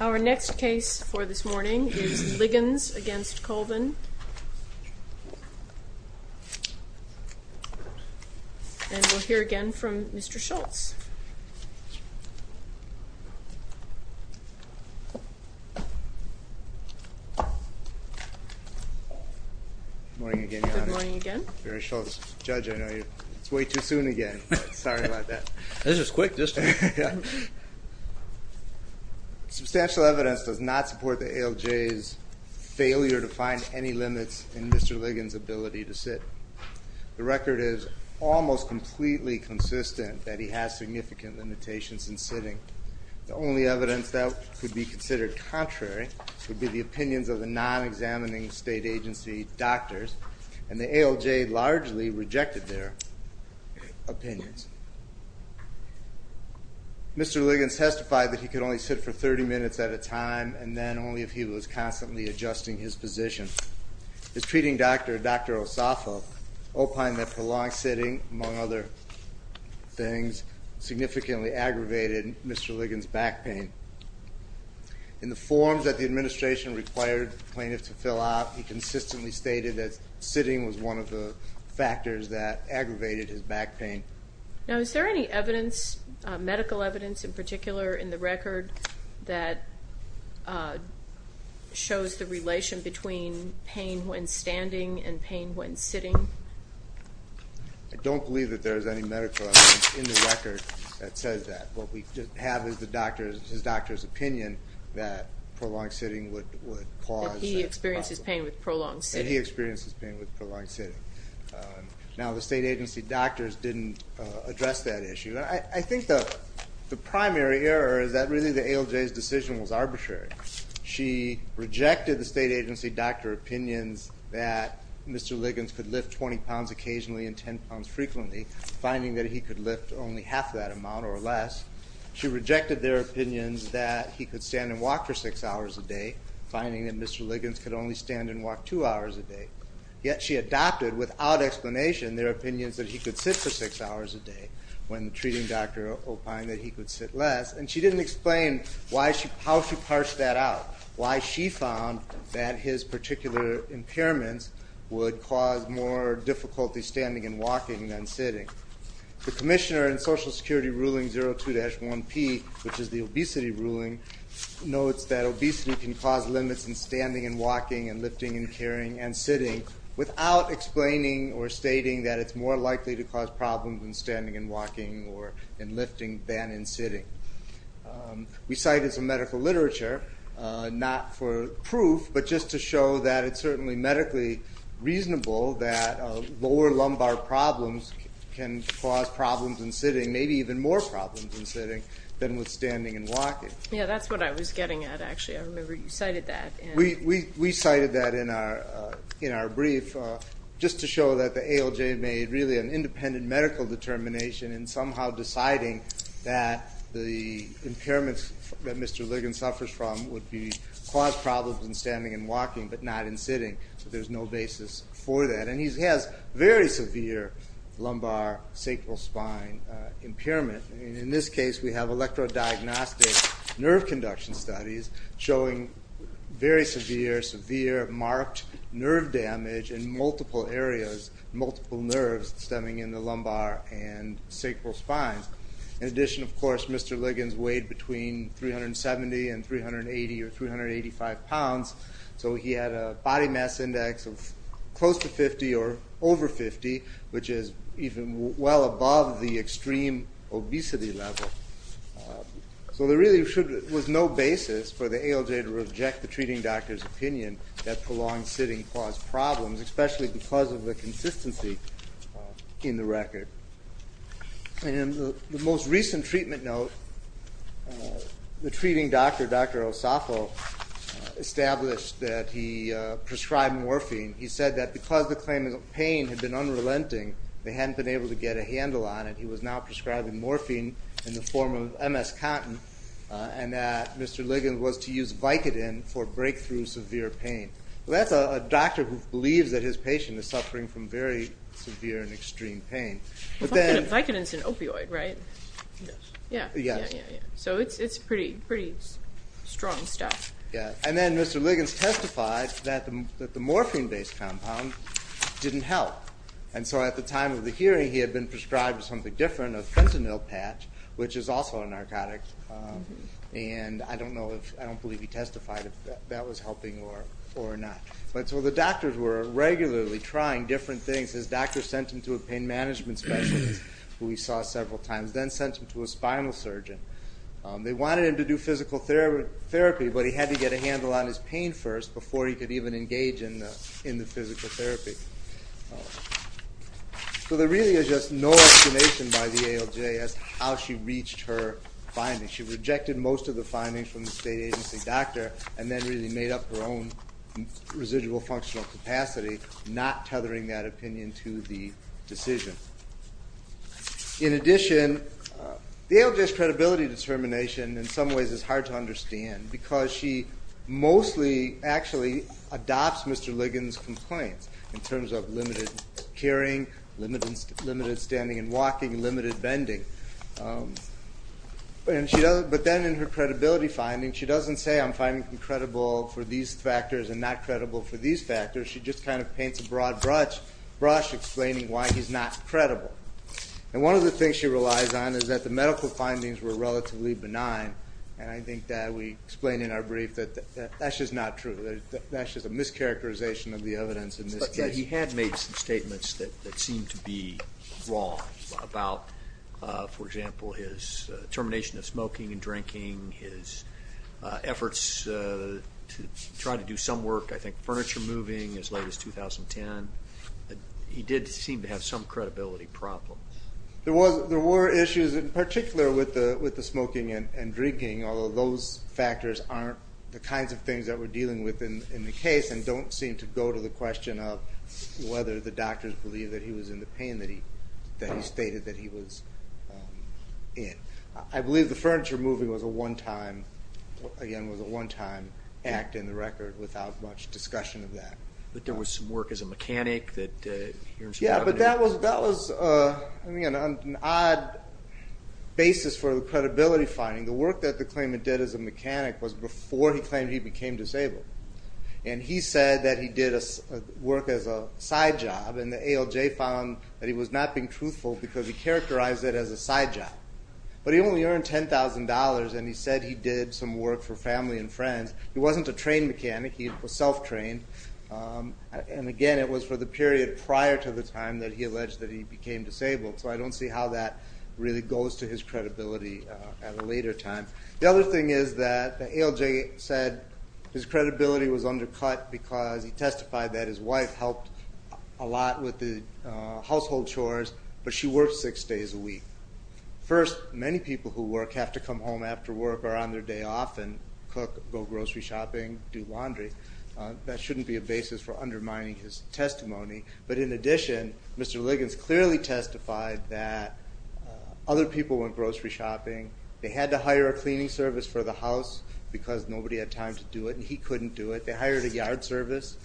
Our next case for this morning is Liggins v. Colvin, and we'll hear again from Mr. Good morning again, Your Honor. Good morning again. Very short. Judge, I know it's way too soon again. Sorry about that. This is quick. Substantial evidence does not support the ALJ's failure to find any limits in Mr. Liggins' ability to sit. The record is almost completely consistent that he has significant limitations in sitting. The only evidence that could be considered contrary would be the opinions of the non-examining state agency doctors, and the ALJ largely rejected their opinions. Mr. Liggins testified that he could only sit for 30 minutes at a time, and then only if he was constantly adjusting his position. His treating doctor, Dr. Osafo, opined that prolonged sitting, among other things, significantly aggravated Mr. Liggins' back pain. In the forms that the administration required plaintiffs to fill out, he consistently stated that sitting was one of the factors that aggravated his back pain. Now, is there any evidence, medical evidence in particular, in the record that shows the relation between pain when standing and pain when sitting? I don't believe that there is any medical evidence in the record that says that. What we have is his doctor's opinion that prolonged sitting would cause problems. That he experiences pain with prolonged sitting. That he experiences pain with prolonged sitting. Now, the state agency doctors didn't address that issue. I think the primary error is that really the ALJ's decision was arbitrary. She rejected the state agency doctor opinions that Mr. Liggins could lift 20 pounds occasionally and 10 pounds frequently, finding that he could lift only half that amount or less. She rejected their opinions that he could stand and walk for six hours a day, finding that Mr. Liggins could only stand and walk two hours a day. Yet she adopted, without explanation, their opinions that he could sit for six hours a day. When treating Dr. Opine, that he could sit less. And she didn't explain how she parsed that out. Why she found that his particular impairments would cause more difficulty standing and walking than sitting. The commissioner in Social Security Ruling 02-1P, which is the obesity ruling, notes that obesity can cause limits in standing and walking and lifting and carrying and sitting, without explaining or stating that it's more likely to cause problems in standing and walking or in lifting than in sitting. We cited some medical literature, not for proof, but just to show that it's certainly medically reasonable that lower lumbar problems can cause problems in sitting, maybe even more problems in sitting than with standing and walking. Yeah, that's what I was getting at, actually. I remember you cited that. We cited that in our brief just to show that the ALJ made really an independent medical determination in somehow deciding that the impairments that Mr. Liggins suffers from would cause problems in standing and walking but not in sitting. There's no basis for that. And he has very severe lumbar sacral spine impairment. In this case, we have electrodiagnostic nerve conduction studies showing very severe, severe marked nerve damage in multiple areas, multiple nerves stemming in the lumbar and sacral spines. In addition, of course, Mr. Liggins weighed between 370 and 380 or 385 pounds, so he had a body mass index of close to 50 or over 50, which is even well above the extreme obesity level. So there really was no basis for the ALJ to reject the treating doctor's opinion that prolonged sitting caused problems, especially because of the consistency in the record. In the most recent treatment note, the treating doctor, Dr. Osafo, established that he prescribed morphine. He said that because the claimant's pain had been unrelenting, they hadn't been able to get a handle on it. He was now prescribing morphine in the form of MS cotton and that Mr. Liggins was to use Vicodin for breakthrough severe pain. Well, that's a doctor who believes that his patient is suffering from very severe and extreme pain. Vicodin is an opioid, right? Yes. So it's pretty strong stuff. And then Mr. Liggins testified that the morphine-based compound didn't help. And so at the time of the hearing, he had been prescribed something different, a fentanyl patch, which is also a narcotic. And I don't believe he testified if that was helping or not. So the doctors were regularly trying different things. His doctor sent him to a pain management specialist, who he saw several times, then sent him to a spinal surgeon. They wanted him to do physical therapy, but he had to get a handle on his pain first before he could even engage in the physical therapy. So there really is just no explanation by the ALJ as to how she reached her findings. She rejected most of the findings from the state agency doctor and then really made up her own residual functional capacity, not tethering that opinion to the decision. In addition, the ALJ's credibility determination in some ways is hard to understand because she mostly actually adopts Mr. Liggins' complaints. In terms of limited carrying, limited standing and walking, limited bending. But then in her credibility findings, she doesn't say, I'm finding him credible for these factors and not credible for these factors. She just kind of paints a broad brush explaining why he's not credible. And one of the things she relies on is that the medical findings were relatively benign. And I think that we explained in our brief that that's just not true. That's just a mischaracterization of the evidence in this case. But he had made some statements that seemed to be wrong about, for example, his termination of smoking and drinking, his efforts to try to do some work, I think furniture moving as late as 2010. He did seem to have some credibility problem. There were issues in particular with the smoking and drinking, although those factors aren't the kinds of things that we're dealing with in the case and don't seem to go to the question of whether the doctors believe that he was in the pain that he stated that he was in. I believe the furniture moving was a one-time, again, was a one-time act in the record without much discussion of that. But there was some work as a mechanic. Yeah, but that was an odd basis for the credibility finding. The work that the claimant did as a mechanic was before he claimed he became disabled. And he said that he did work as a side job, and the ALJ found that he was not being truthful because he characterized it as a side job. But he only earned $10,000, and he said he did some work for family and friends. He wasn't a trained mechanic. He was self-trained. And again, it was for the period prior to the time that he alleged that he became disabled. So I don't see how that really goes to his credibility at a later time. The other thing is that the ALJ said his credibility was undercut because he testified that his wife helped a lot with the household chores, but she worked six days a week. First, many people who work have to come home after work or on their day off and cook, go grocery shopping, do laundry. That shouldn't be a basis for undermining his testimony. But in addition, Mr. Liggins clearly testified that other people went grocery shopping. They had to hire a cleaning service for the house because nobody had time to do it, and he couldn't do it. They hired a yard service.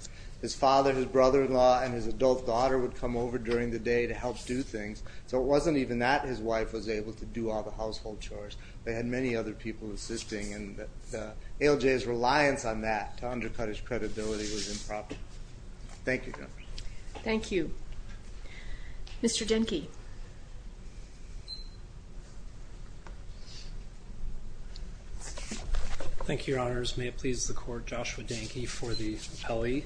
His father, his brother-in-law, and his adult daughter would come over during the day to help do things. So it wasn't even that his wife was able to do all the household chores. They had many other people assisting, and ALJ's reliance on that to undercut his credibility was improper. Thank you. Thank you. Mr. Denke. Thank you, Your Honors. May it please the Court, Joshua Denke for the rappellee.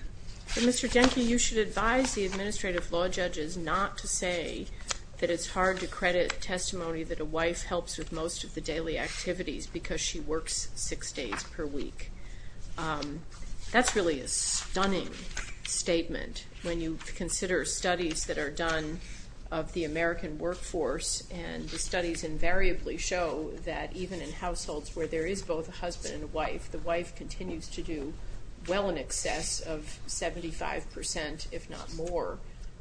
Mr. Denke, you should advise the administrative law judges not to say that it's hard to credit testimony that a wife helps with most of the daily activities because she works six days per week. That's really a stunning statement when you consider studies that are done of the American workforce, and the studies invariably show that even in households where there is both a husband and a wife, the wife continues to do well in excess of 75%, if not more,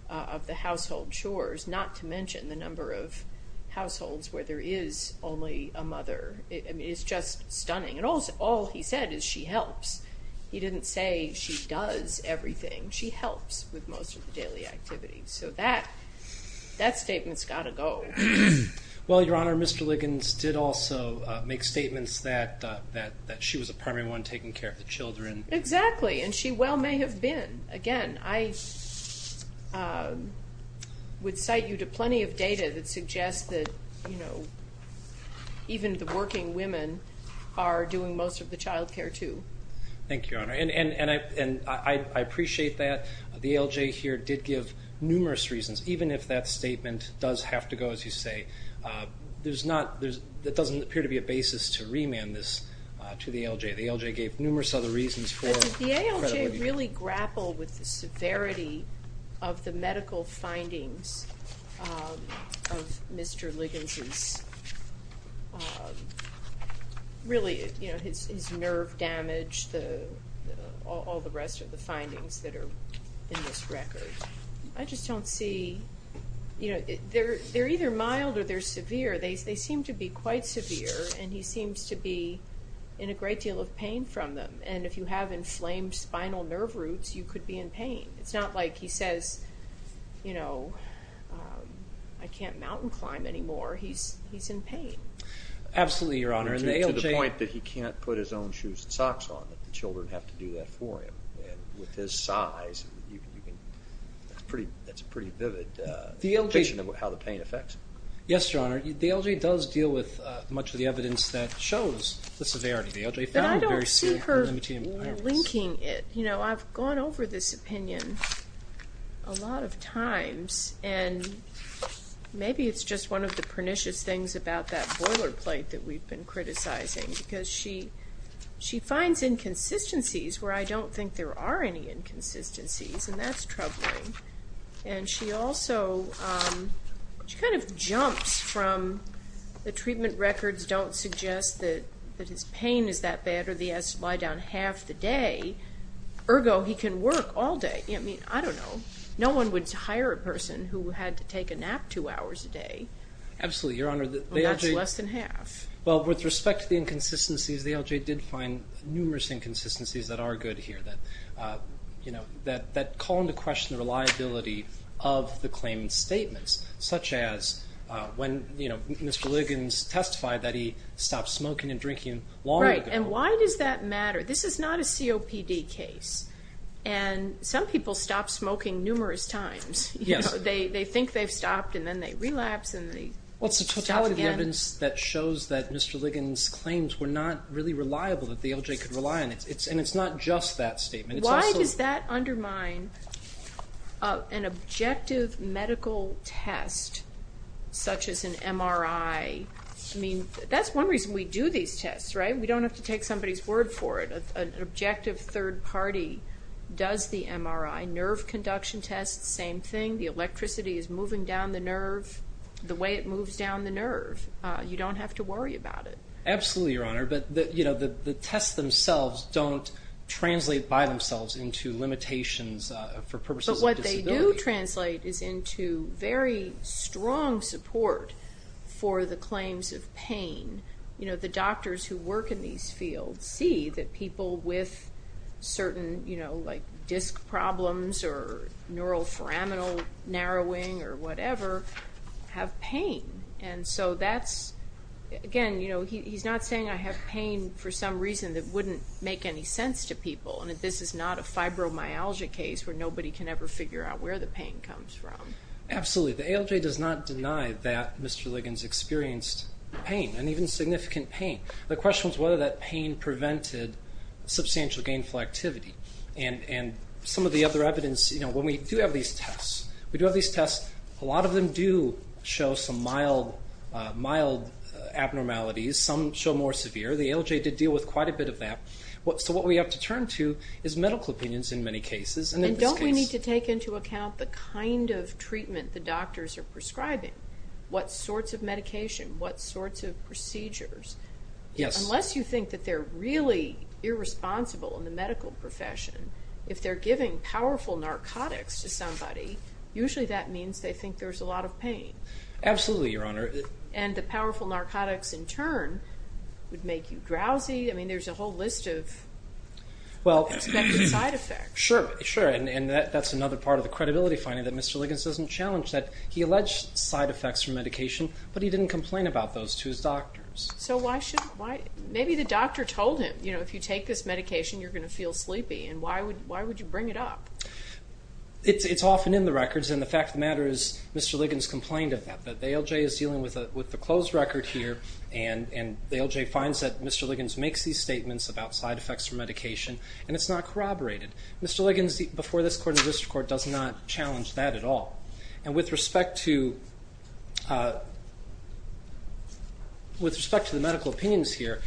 of the household chores, not to mention the number of households where there is only a mother. I mean, it's just stunning. And all he said is she helps. He didn't say she does everything. She helps with most of the daily activities. So that statement's got to go. Well, Your Honor, Mr. Liggins did also make statements that she was a primary one taking care of the children. Exactly, and she well may have been. Again, I would cite you to plenty of data that suggests that, you know, even the working women are doing most of the child care, too. Thank you, Your Honor. And I appreciate that. The ALJ here did give numerous reasons, even if that statement does have to go, as you say. That doesn't appear to be a basis to remand this to the ALJ. The ALJ gave numerous other reasons for credibility. The ALJ really grappled with the severity of the medical findings of Mr. Liggins' really, you know, his nerve damage, all the rest of the findings that are in this record. I just don't see, you know, they're either mild or they're severe. They seem to be quite severe, and he seems to be in a great deal of pain from them. And if you have inflamed spinal nerve roots, you could be in pain. It's not like he says, you know, I can't mountain climb anymore. He's in pain. Absolutely, Your Honor. To the point that he can't put his own shoes and socks on. The children have to do that for him. And with his size, that's a pretty vivid depiction of how the pain affects him. Yes, Your Honor. The ALJ does deal with much of the evidence that shows the severity. The ALJ found very severe. But I don't see her linking it. You know, I've gone over this opinion a lot of times, and maybe it's just one of the pernicious things about that boilerplate that we've been criticizing. Because she finds inconsistencies where I don't think there are any inconsistencies, and that's troubling. And she also kind of jumps from the treatment records don't suggest that his pain is that bad or he has to lie down half the day. Ergo, he can work all day. I mean, I don't know. No one would hire a person who had to take a nap two hours a day. Absolutely, Your Honor. Well, that's less than half. Well, with respect to the inconsistencies, the ALJ did find numerous inconsistencies that are good here that call into question the reliability of the claimant's statements, such as when Mr. Liggins testified that he stopped smoking and drinking long ago. Right, and why does that matter? This is not a COPD case. And some people stop smoking numerous times. Yes. They think they've stopped and then they relapse and they stop again. Well, it's the totality of the evidence that shows that Mr. Liggins' claims were not really reliable, that the ALJ could rely on it. And it's not just that statement. Why does that undermine an objective medical test such as an MRI? I mean, that's one reason we do these tests, right? We don't have to take somebody's word for it. An objective third party does the MRI. Nerve conduction tests, same thing. The electricity is moving down the nerve the way it moves down the nerve. You don't have to worry about it. Absolutely, Your Honor. But the tests themselves don't translate by themselves into limitations for purposes of disability. But what they do translate is into very strong support for the claims of pain. You know, the doctors who work in these fields see that people with certain, you know, like disc problems or neuroforaminal narrowing or whatever have pain. And so that's, again, you know, he's not saying I have pain for some reason that wouldn't make any sense to people. I mean, this is not a fibromyalgia case where nobody can ever figure out where the pain comes from. Absolutely. The ALJ does not deny that Mr. Liggins experienced pain, and even significant pain. The question was whether that pain prevented substantial gainful activity. And some of the other evidence, you know, when we do have these tests, we do have these tests, a lot of them do show some mild abnormalities. Some show more severe. The ALJ did deal with quite a bit of that. So what we have to turn to is medical opinions in many cases. And don't we need to take into account the kind of treatment the doctors are prescribing? What sorts of medication? What sorts of procedures? Unless you think that they're really irresponsible in the medical profession, if they're giving powerful narcotics to somebody, usually that means they think there's a lot of pain. Absolutely, Your Honor. And the powerful narcotics, in turn, would make you drowsy. I mean, there's a whole list of expected side effects. Sure, sure, and that's another part of the credibility finding, that Mr. Liggins doesn't challenge that. He alleged side effects from medication, but he didn't complain about those to his doctors. So why should he? Maybe the doctor told him, you know, if you take this medication, you're going to feel sleepy, and why would you bring it up? It's often in the records, and the fact of the matter is Mr. Liggins complained of that. The ALJ is dealing with a closed record here, and the ALJ finds that Mr. Liggins makes these statements about side effects from medication, and it's not corroborated. Mr. Liggins, before this court and the district court, does not challenge that at all. And with respect to the medical opinions here,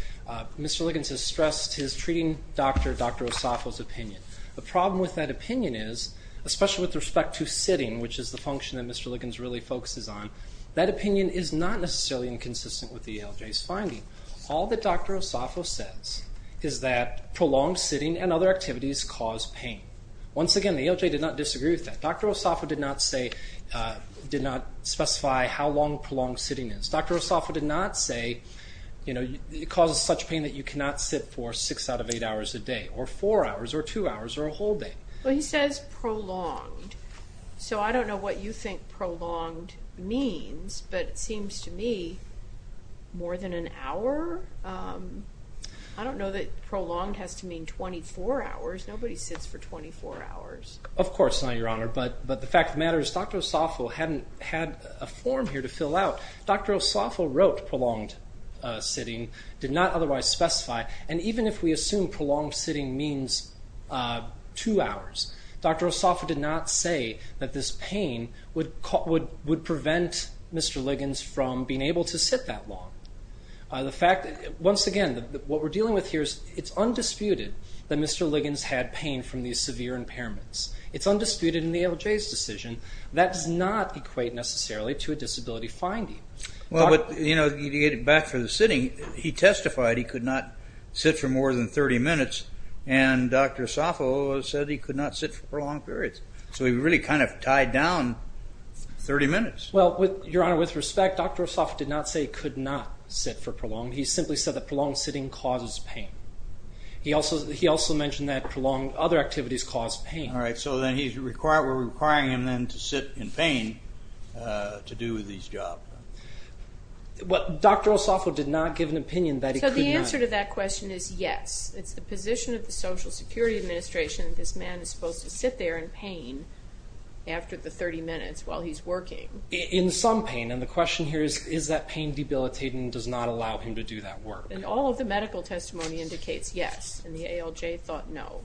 Mr. Liggins has stressed his treating doctor, Dr. Osafo's opinion. The problem with that opinion is, especially with respect to sitting, which is the function that Mr. Liggins really focuses on, that opinion is not necessarily inconsistent with the ALJ's finding. All that Dr. Osafo says is that prolonged sitting and other activities cause pain. Once again, the ALJ did not disagree with that. Dr. Osafo did not specify how long prolonged sitting is. Dr. Osafo did not say it causes such pain that you cannot sit for 6 out of 8 hours a day, or 4 hours, or 2 hours, or a whole day. Well, he says prolonged. So I don't know what you think prolonged means, but it seems to me more than an hour. I don't know that prolonged has to mean 24 hours. Nobody sits for 24 hours. Of course not, Your Honor. But the fact of the matter is Dr. Osafo hadn't had a form here to fill out. Dr. Osafo wrote prolonged sitting, did not otherwise specify. And even if we assume prolonged sitting means 2 hours, Dr. Osafo did not say that this pain would prevent Mr. Liggins from being able to sit that long. Once again, what we're dealing with here is it's undisputed that Mr. Liggins had pain from these severe impairments. It's undisputed in the ALJ's decision. That does not equate necessarily to a disability finding. Well, you know, to get it back for the sitting, he testified he could not sit for more than 30 minutes, and Dr. Osafo said he could not sit for prolonged periods. So he really kind of tied down 30 minutes. Well, Your Honor, with respect, Dr. Osafo did not say he could not sit for prolonged. He simply said that prolonged sitting causes pain. He also mentioned that prolonged other activities cause pain. All right, so then we're requiring him then to sit in pain to do these jobs. Well, Dr. Osafo did not give an opinion that he could not. So the answer to that question is yes. It's the position of the Social Security Administration that this man is supposed to sit there in pain after the 30 minutes while he's working. In some pain, and the question here is, is that pain debilitating and does not allow him to do that work? And all of the medical testimony indicates yes, and the ALJ thought no.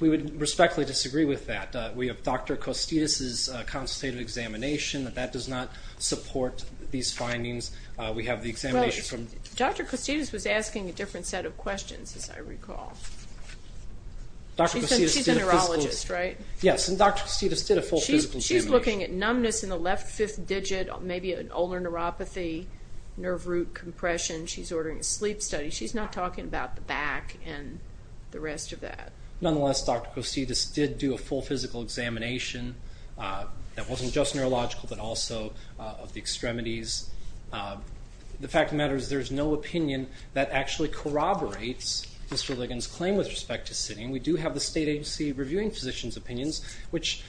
We would respectfully disagree with that. We have Dr. Costitas's consultative examination. That does not support these findings. Well, Dr. Costitas was asking a different set of questions, as I recall. She's a neurologist, right? Yes, and Dr. Costitas did a full physical examination. She's looking at numbness in the left fifth digit, maybe an ulnar neuropathy, nerve root compression. She's ordering a sleep study. She's not talking about the back and the rest of that. Nonetheless, Dr. Costitas did do a full physical examination that wasn't just neurological but also of the extremities. The fact of the matter is there's no opinion that actually corroborates Mr. Ligon's claim with respect to sitting. We do have the State Agency Reviewing Physicians' Opinions, which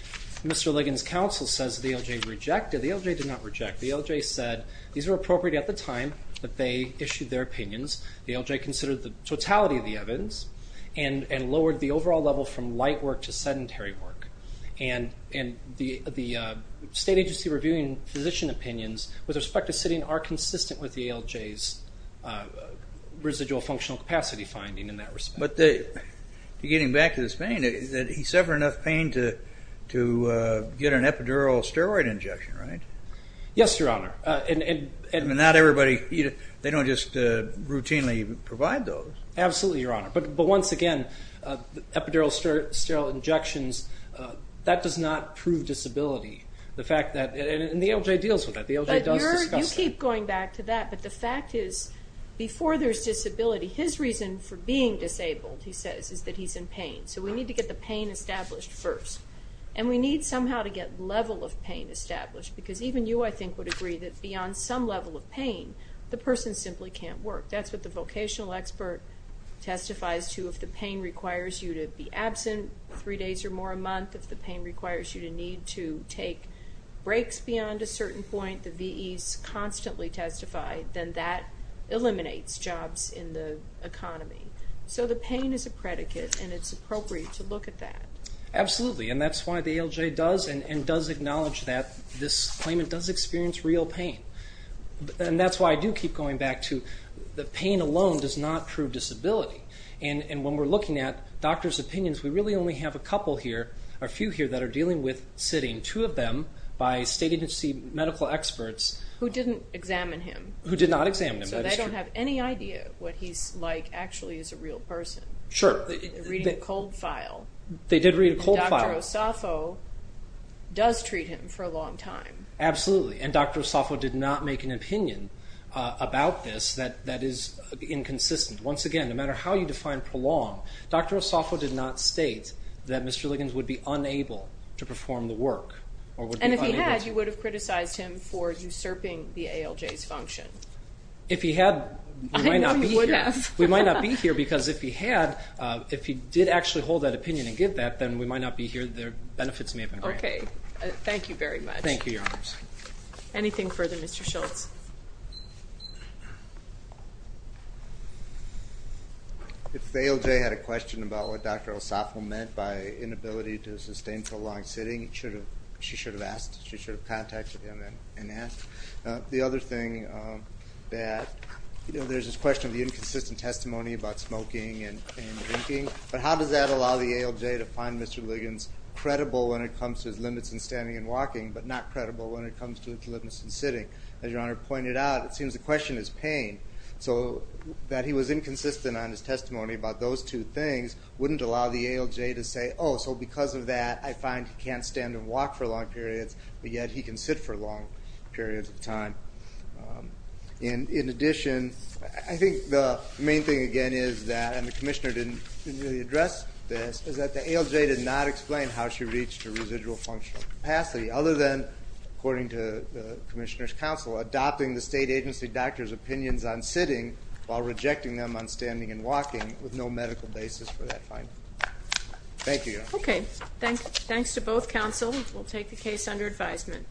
Mr. Ligon's counsel says the ALJ rejected. The ALJ did not reject. The ALJ said these were appropriate at the time that they issued their opinions. The ALJ considered the totality of the evidence and lowered the overall level from light work to sedentary work. And the State Agency Reviewing Physician Opinions with respect to sitting are consistent with the ALJ's residual functional capacity finding in that respect. But to get him back to his pain, he suffered enough pain to get an epidural steroid injection, right? Yes, Your Honor. And not everybody, they don't just routinely provide those. Absolutely, Your Honor. But once again, epidural steroid injections, that does not prove disability. And the ALJ deals with that. The ALJ does discuss that. You keep going back to that, but the fact is before there's disability, his reason for being disabled, he says, is that he's in pain. So we need to get the pain established first. And we need somehow to get level of pain established because even you, I think, would agree that beyond some level of pain, the person simply can't work. That's what the vocational expert testifies to. If the pain requires you to be absent three days or more a month, if the pain requires you to need to take breaks beyond a certain point, the VEs constantly testify, then that eliminates jobs in the economy. So the pain is a predicate, and it's appropriate to look at that. Absolutely, and that's why the ALJ does and does acknowledge that this claimant does experience real pain. And that's why I do keep going back to the pain alone does not prove disability. And when we're looking at doctors' opinions, we really only have a couple here, or a few here, that are dealing with sitting, two of them, by state agency medical experts. Who didn't examine him. Who did not examine him, that is true. So they don't have any idea what he's like actually as a real person. Sure. They're reading a cold file. They did read a cold file. Dr. Osafo does treat him for a long time. Absolutely, and Dr. Osafo did not make an opinion about this that is inconsistent. Once again, no matter how you define prolonged, Dr. Osafo did not state that Mr. Liggins would be unable to perform the work. And if he had, you would have criticized him for usurping the ALJ's function. If he had, we might not be here. I know you would have. We might not be here because if he had, if he did actually hold that opinion and give that, then we might not be here, the benefits may have been great. Okay, thank you very much. Thank you, Your Honors. Anything further, Mr. Schultz? If the ALJ had a question about what Dr. Osafo meant by inability to sustain prolonged sitting, she should have asked. She should have contacted him and asked. The other thing that, you know, there's this question of the inconsistent testimony about smoking and drinking, but how does that allow the ALJ to find Mr. Liggins credible when it comes to his limits in standing and walking but not credible when it comes to his limits in sitting? As Your Honor pointed out, it seems the question is pain. So that he was inconsistent on his testimony about those two things wouldn't allow the ALJ to say, oh, so because of that, I find he can't stand and walk for long periods, but yet he can sit for long periods of time. In addition, I think the main thing, again, is that, and the Commissioner didn't really address this, is that the ALJ did not explain how she reached her residual functional capacity other than, according to the Commissioner's counsel, adopting the state agency doctor's opinions on sitting while rejecting them on standing and walking with no medical basis for that finding. Thank you, Your Honor. Okay. Thanks to both counsel. We'll take the case under advisement.